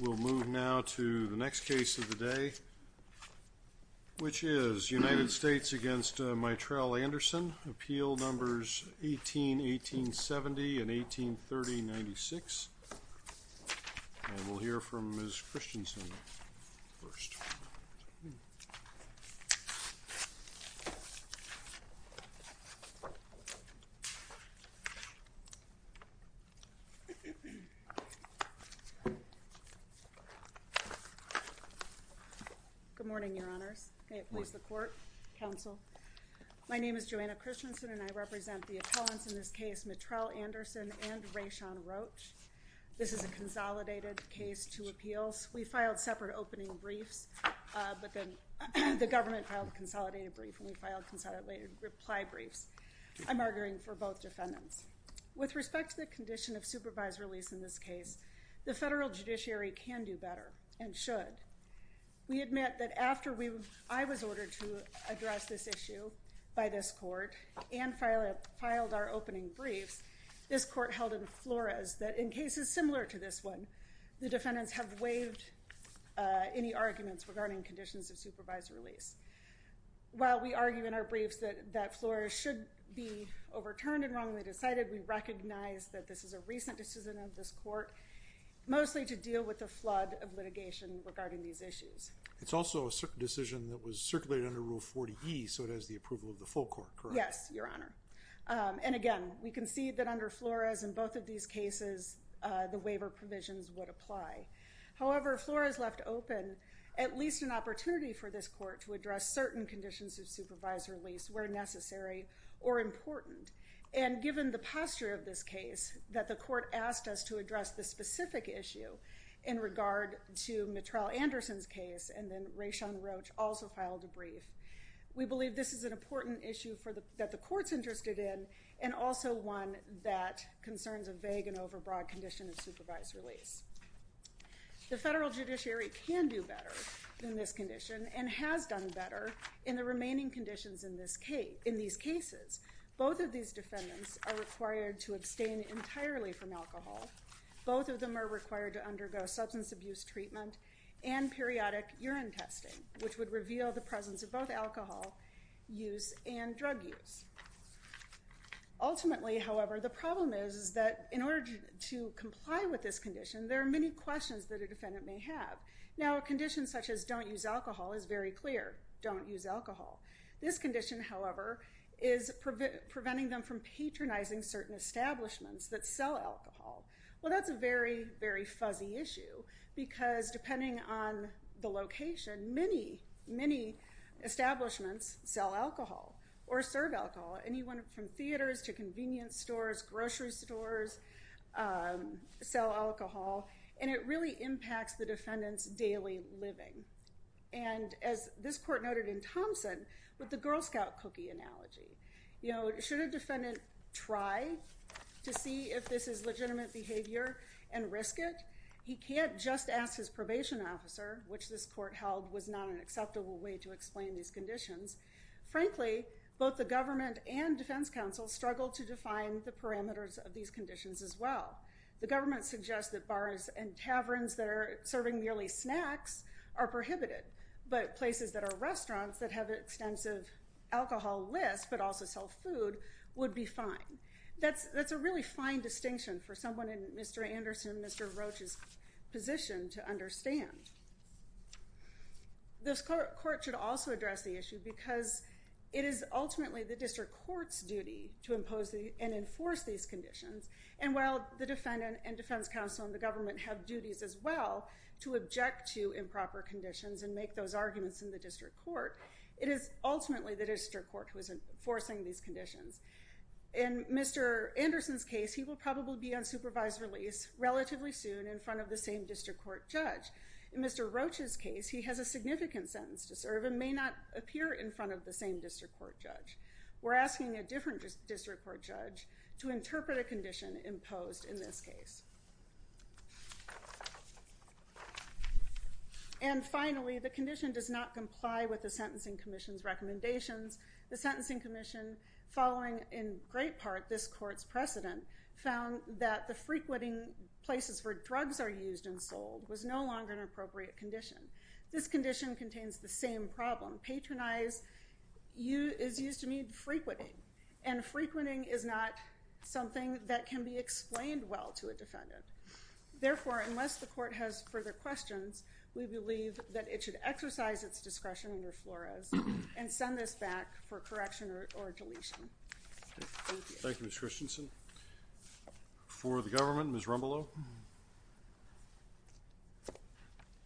We'll move now to the next case of the day, which is United States v. Mitrel Anderson, Appeal Numbers 18-1870 and 18-3096, and we'll hear from Ms. Christensen first. Good morning, Your Honors. May it please the Court, Counsel. My name is Joanna Christensen and I represent the appellants in this case, Mitrel Anderson and Rayshon Roach. This is a consolidated case, two appeals. We filed separate opening briefs, but then the government filed a consolidated brief and we filed consolidated reply briefs. I'm arguing for both defendants. With respect to the condition of supervised release in this case, the federal judiciary can do better and should. We admit that after I was ordered to address this issue by this court and filed our opening briefs, this court held in Flores that in cases similar to this one, the defendants have waived any arguments regarding conditions of supervised release. While we argue in our briefs that Flores should be overturned and wrongly decided, we recognize that this is a recent decision of this court, mostly to deal with the flood of litigation regarding these issues. It's also a decision that was circulated under Rule 40E, so it has the approval of the full court, correct? Yes, Your Honor. And again, we concede that under Flores in both of these cases, the waiver provisions would apply. However, Flores left open at least an opportunity for this court to address certain conditions of supervised release where necessary or important. And given the posture of this case, that the court asked us to address this specific issue in regard to Mitrell Anderson's case and then Rayshon Roach also filed a brief, we believe this is an important issue that the court's interested in and also one that concerns a vague and overbroad condition of supervised release. The federal judiciary can do better in this condition and has done better in the remaining conditions in these cases. Both of these defendants are required to abstain entirely from alcohol. Both of them are required to undergo substance abuse treatment and periodic urine testing, which would reveal the presence of both alcohol use and drug use. Ultimately, however, the problem is that in order to comply with this condition, there are many questions that a defendant may have. Now, a condition such as don't use alcohol is very clear. Don't use alcohol. This condition, however, is preventing them from patronizing certain establishments that sell alcohol. Well, that's a very, very fuzzy issue because depending on the location, many, many establishments sell alcohol or serve alcohol. Anyone from theaters to convenience stores, grocery stores sell alcohol and it really impacts the defendant's daily living. And as this court noted in Thompson, with the Girl Scout cookie analogy, should a defendant try to see if this is legitimate behavior and risk it? He can't just ask his probation officer, which this court held was not an acceptable way to explain these conditions. Frankly, both the government and defense counsel struggle to define the parameters of these conditions as well. The government suggests that bars and taverns that are serving merely snacks are prohibited, but places that are restaurants that have extensive alcohol lists but also sell food would be fine. That's a really fine distinction for someone in Mr. Roach's position to understand. This court should also address the issue because it is ultimately the district court's duty to impose and enforce these conditions. And while the defendant and defense counsel and the government have duties as well to object to improper conditions and make those arguments in the district court, it is ultimately the district court who is enforcing these conditions. In Mr. Anderson's case, he will probably be on soon in front of the same district court judge. In Mr. Roach's case, he has a significant sentence to serve and may not appear in front of the same district court judge. We're asking a different district court judge to interpret a condition imposed in this case. And finally, the condition does not comply with the Sentencing Commission's recommendations. The Sentencing Commission, following in great part this court's precedent, found that the frequenting places where drugs are used and sold was no longer an appropriate condition. This condition contains the same problem. Patronize is used to mean frequenting, and frequenting is not something that can be explained well to a defendant. Therefore, unless the court has further questions, we believe that it should exercise its discretion under Flores and send this back for correction or deletion. Thank you. Thank you, Ms. Christensen. For the government, Ms. Rumbelow.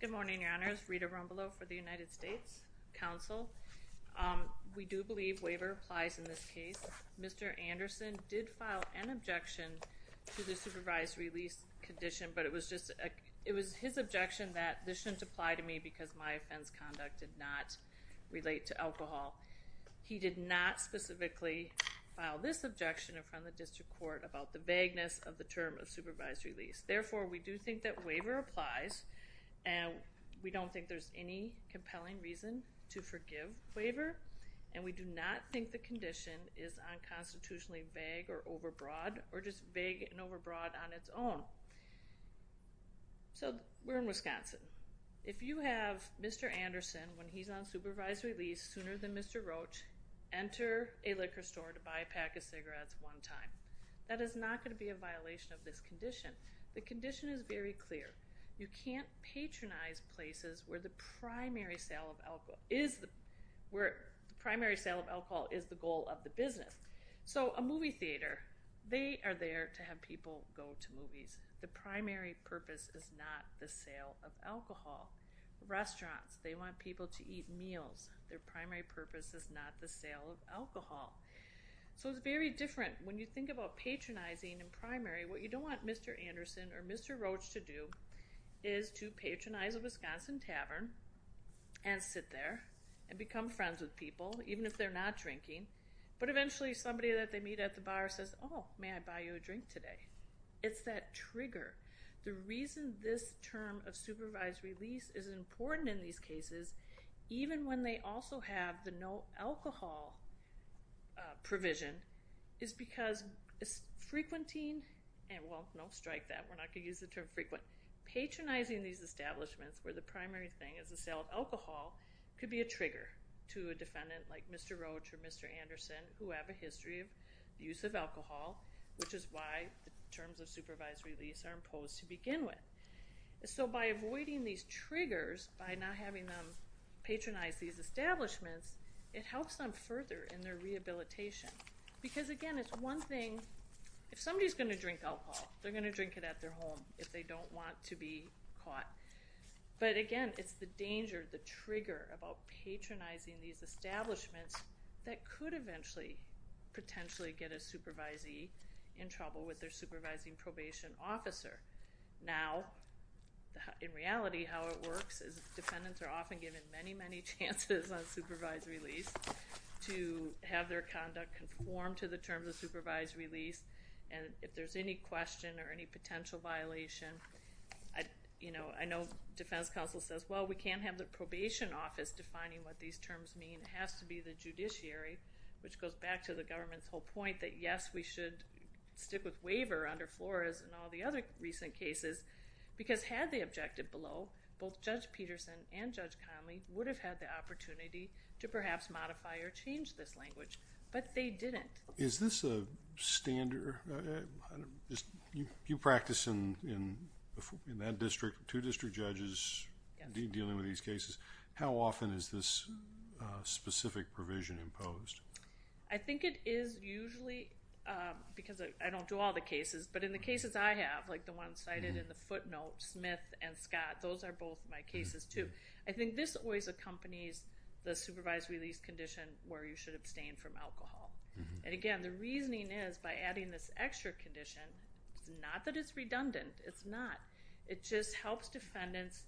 Good morning, Your Honors. Rita Rumbelow for the United States Council. We do believe waiver applies in this case. Mr. Anderson did file an objection to the supervised release condition, but it was his objection that this shouldn't apply to me because my offense conduct did not relate to alcohol. He did not specifically file this objection in front of the district court about the vagueness of the term of supervised release. Therefore, we do think that waiver applies, and we don't think there's any compelling reason to forgive waiver, and we do not think the condition is unconstitutionally vague or overbroad, or just vague and overbroad on its own. So, we're in Wisconsin. If you have Mr. Anderson, when he's on supervised release, sooner than Mr. Roach, enter a liquor store to buy a pack of cigarettes one time, that is not going to be a violation of this condition. The condition is very clear. You can't patronize places where the primary sale of alcohol is the goal of the business. So, a movie theater, they are there to have people go to movies. The primary purpose is not the sale of alcohol. Restaurants, they want people to eat meals. Their primary purpose is not the sale of alcohol. So, it's very different when you think about patronizing in primary. What you don't want Mr. Anderson or Mr. Roach to do is to patronize a Wisconsin tavern and sit there and become friends with people, even if they're not drinking, but eventually somebody that they meet at the bar says, oh, may I buy you a drink today? It's that trigger. The reason this term of supervised release is important in these cases, even when they also have the no alcohol provision, is because frequenting, well, don't strike that. We're not going to use the term frequent. Patronizing these establishments where the primary thing is the sale of alcohol could be a trigger to a defendant like Mr. Roach or Mr. Anderson who have a history of use of alcohol, which is why the terms of supervised release are imposed to begin with. So, by avoiding these triggers, by not having them patronize these establishments, it helps them further in their rehabilitation. Because again, it's one thing, if somebody's going to drink alcohol, they're going to drink it at their home if they don't want to be caught. But again, it's the danger, the trigger about patronizing these establishments that could eventually, potentially get a supervisee in trouble with their supervising probation officer. Now, in reality, how it works is defendants are often given many, many chances on supervised release to have their conduct conform to the terms of supervised release. And if there's any question or any potential violation, you know, I know defense counsel says, well, we can't have the probation office defining what these terms mean. It has to be the judiciary, which goes back to the government's whole point that, yes, we should stick with waiver under Flores and all the other recent cases. Because had they objected below, both Judge Peterson and Judge Conley would have had the opportunity to perhaps modify or change this language. But they didn't. Is this a standard? You practice in that district, two district judges dealing with these cases. How often is this specific provision imposed? I think it is usually, because I don't do all the cases, but in the cases I have, like the ones cited in the footnote, Smith and Scott, those are both my cases too. I think this always accompanies the supervised release condition where you should abstain from alcohol. And again, the reasoning is by adding this extra condition, it's not that it's redundant. It's not. It just helps defendants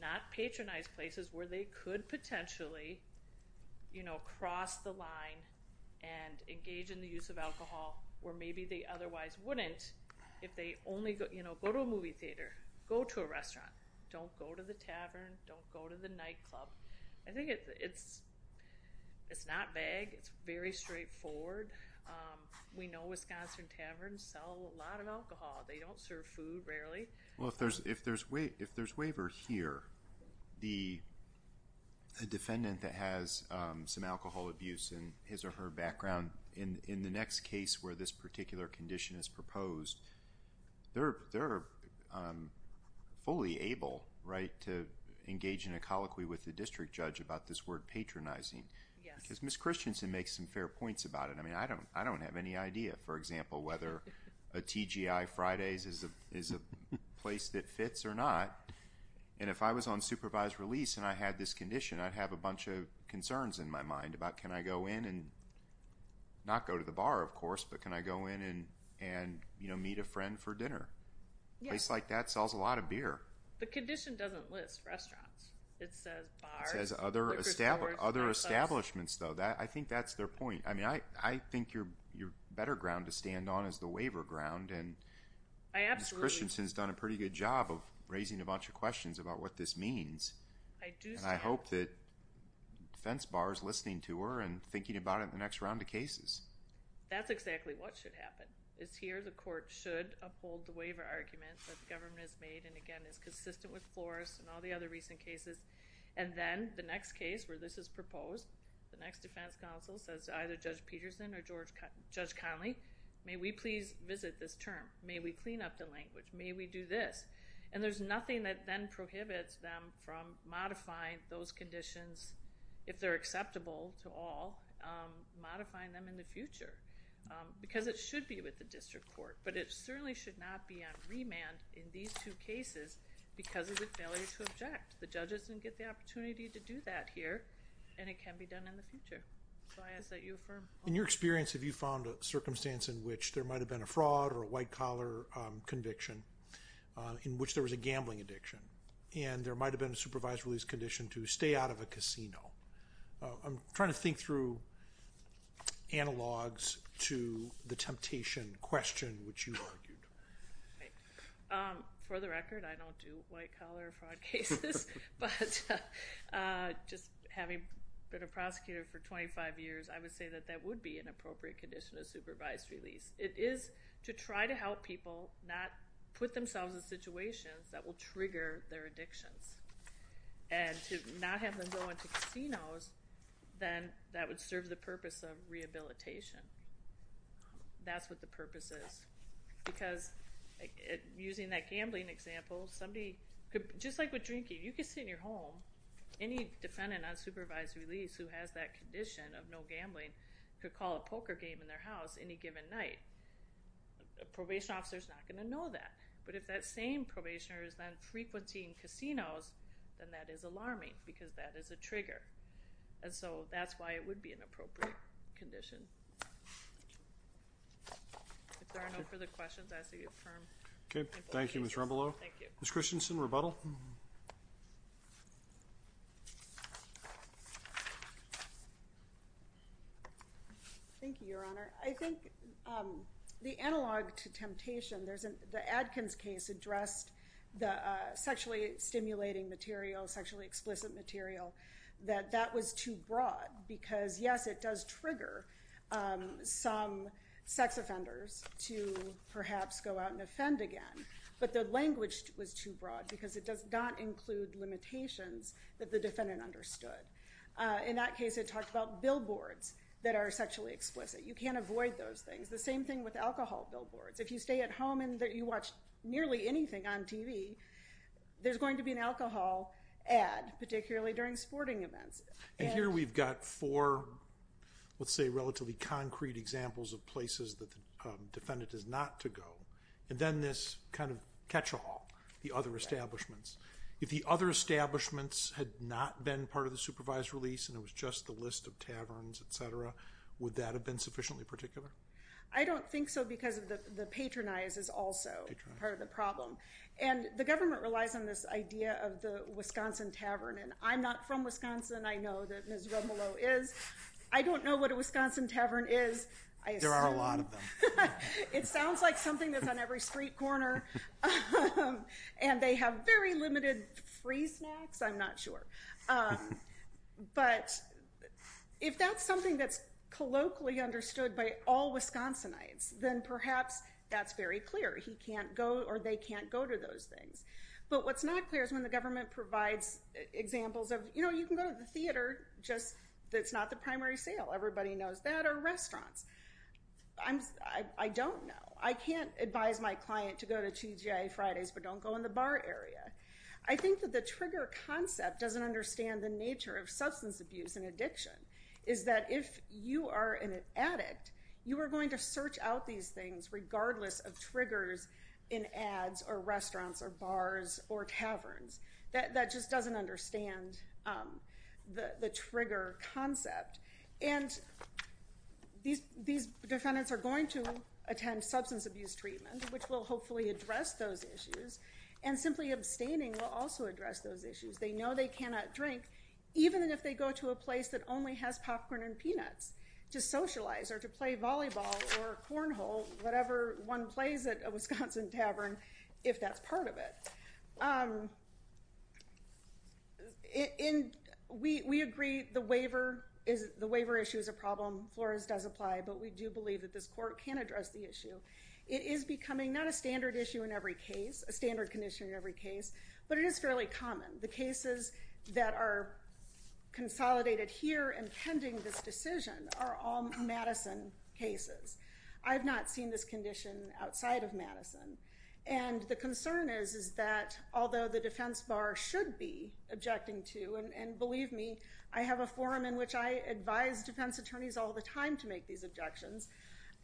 not patronize places where they could potentially, you know, cross the line and engage in the use of alcohol where maybe they otherwise wouldn't if they only, you know, go to a movie theater, go to a restaurant, don't go to the tavern, don't go to the nightclub. I think it's not vague. It's very straightforward. We know Wisconsin taverns sell a lot of alcohol. They don't serve food, rarely. Well, if there's waiver here, the defendant that has some alcohol abuse and his or her background in the next case where this particular condition is proposed, they're fully able, right, to engage in a colloquy with the district judge about this word patronizing. Yes. Ms. Christensen makes some fair points about it. I mean, I don't have any idea, for example, whether a TGI Friday's is a place that fits or not. And if I was on supervised release and I had this condition, I'd have a bunch of concerns in my mind about can I go in and not go to the bar, of course, but can I go in and, you know, meet a friend for dinner? A place like that sells a lot of beer. Other establishments, though, I think that's their point. I mean, I think your better ground to stand on is the waiver ground, and Ms. Christensen's done a pretty good job of raising a bunch of questions about what this means, and I hope that the defense bar is listening to her and thinking about it in the next round of cases. That's exactly what should happen, is here the court should uphold the waiver argument that the government has made and, again, is consistent with Flores and all the other recent cases, and then the next case where this is proposed, the next defense counsel says either Judge Peterson or Judge Conley, may we please visit this term? May we clean up the language? May we do this? And there's nothing that then prohibits them from modifying those conditions, if they're acceptable to all, modifying them in the future, because it should be with the district court, but it certainly should not be on remand in these two cases because of the failure to object. The judges didn't get the opportunity to do that here, and it can be done in the future. So I ask that you affirm. In your experience, have you found a circumstance in which there might have been a fraud or a white-collar conviction in which there was a gambling addiction, and there might have been a supervised release condition to stay out of a casino? I'm trying to think through analogs to the temptation question, which you argued. For the record, I don't do white-collar fraud cases, but just having been a prosecutor for 25 years, I would say that that would be an appropriate condition of supervised release. It is to try to help people not put themselves in situations that will trigger their addictions, and to not have them go into casinos, then that would serve the purpose of rehabilitation. That's what the purpose is, because using that gambling example, somebody could, just like with drinking, you could sit in your home, any defendant on supervised release who has that condition of no gambling could call a poker game in their house any given night. A probation officer's not going to know that, but if that same probationer is on frequency in casinos, then that is alarming, because that is a trigger, and so that's why it would be an appropriate condition. If there are no further questions, I ask that you confirm. Okay. Thank you, Ms. Rumbelow. Thank you. Ms. Christensen, rebuttal? Thank you, Your Honor. I think the analog to temptation, there's an, the Adkins case addressed the sexually stimulating material, sexually explicit material, that that was too broad, because yes, it does trigger some sex offenders to perhaps go out and offend again, but the language was too broad, because it does not include limitations that the defendant understood. In that case, it talked about billboards that are sexually explicit. You can't avoid those things. The same thing with alcohol billboards. If you stay at home and you watch nearly anything on TV, there's going to be an alcohol ad, particularly during sporting events. And here we've got four, let's say relatively concrete examples of places that the defendant is not to go, and then this kind of catch-all, the other establishments. If the other establishments had not been part of the supervised release, and it was just the list of taverns, etc., would that have been sufficiently particular? I don't think so, because the patronize is also part of the problem. And the government relies on this idea of the Wisconsin tavern, and I'm not from Wisconsin. I know that Ms. Rumlow is. I don't know what a Wisconsin tavern is. There are a lot of them. It sounds like something that's on every street corner, and they have very limited free snacks. I'm not sure. But if that's something that's colloquially understood by all Wisconsinites, then perhaps that's very clear. He can't go or they can't go to those things. But what's not clear is when the government provides examples of, you know, you can go to the theater, just that's not the primary sale. Everybody knows that. Or restaurants. I don't know. I can't advise my client to go to TGA Fridays, but don't go in the nature of substance abuse and addiction is that if you are an addict, you are going to search out these things regardless of triggers in ads or restaurants or bars or taverns. That just doesn't understand the trigger concept. And these defendants are going to attend substance abuse treatment, which will hopefully address those issues, and simply abstaining will also address those issues. They know they cannot drink, even if they go to a place that only has popcorn and peanuts, to socialize or to play volleyball or cornhole, whatever one plays at a Wisconsin tavern, if that's part of it. We agree the waiver issue is a problem. Flores does apply, but we do believe that this court can address the issue. It is becoming not a standard issue in every case, a standard condition in every case, but it is fairly common. The cases that are consolidated here and pending this decision are all Madison cases. I have not seen this condition outside of Madison. And the concern is that although the defense bar should be objecting to, and believe me, I have a forum in which I advise defense attorneys all the time to make these objections,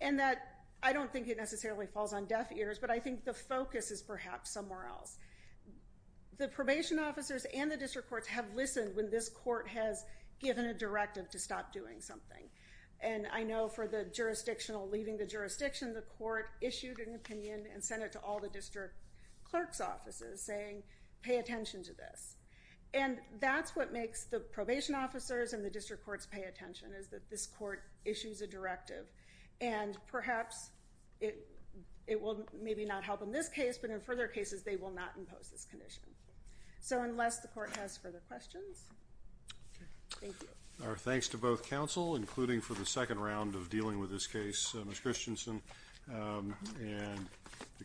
and that I don't think it necessarily falls on deaf ears, but I think the focus is perhaps somewhere else. The probation officers and the district courts have listened when this court has given a directive to stop doing something. And I know for the jurisdictional leaving the jurisdiction, the court issued an opinion and sent it to all the district clerk's offices, saying, pay attention to this. And that's what makes the probation officers and the district courts pay attention, is that this court issues a directive. And perhaps it will maybe not help in this case, but in further cases they will not impose this condition. So unless the court has further questions, thank you. Our thanks to both counsel, including for the second round of dealing with this case, Ms. Christensen, and the case will be adjourned.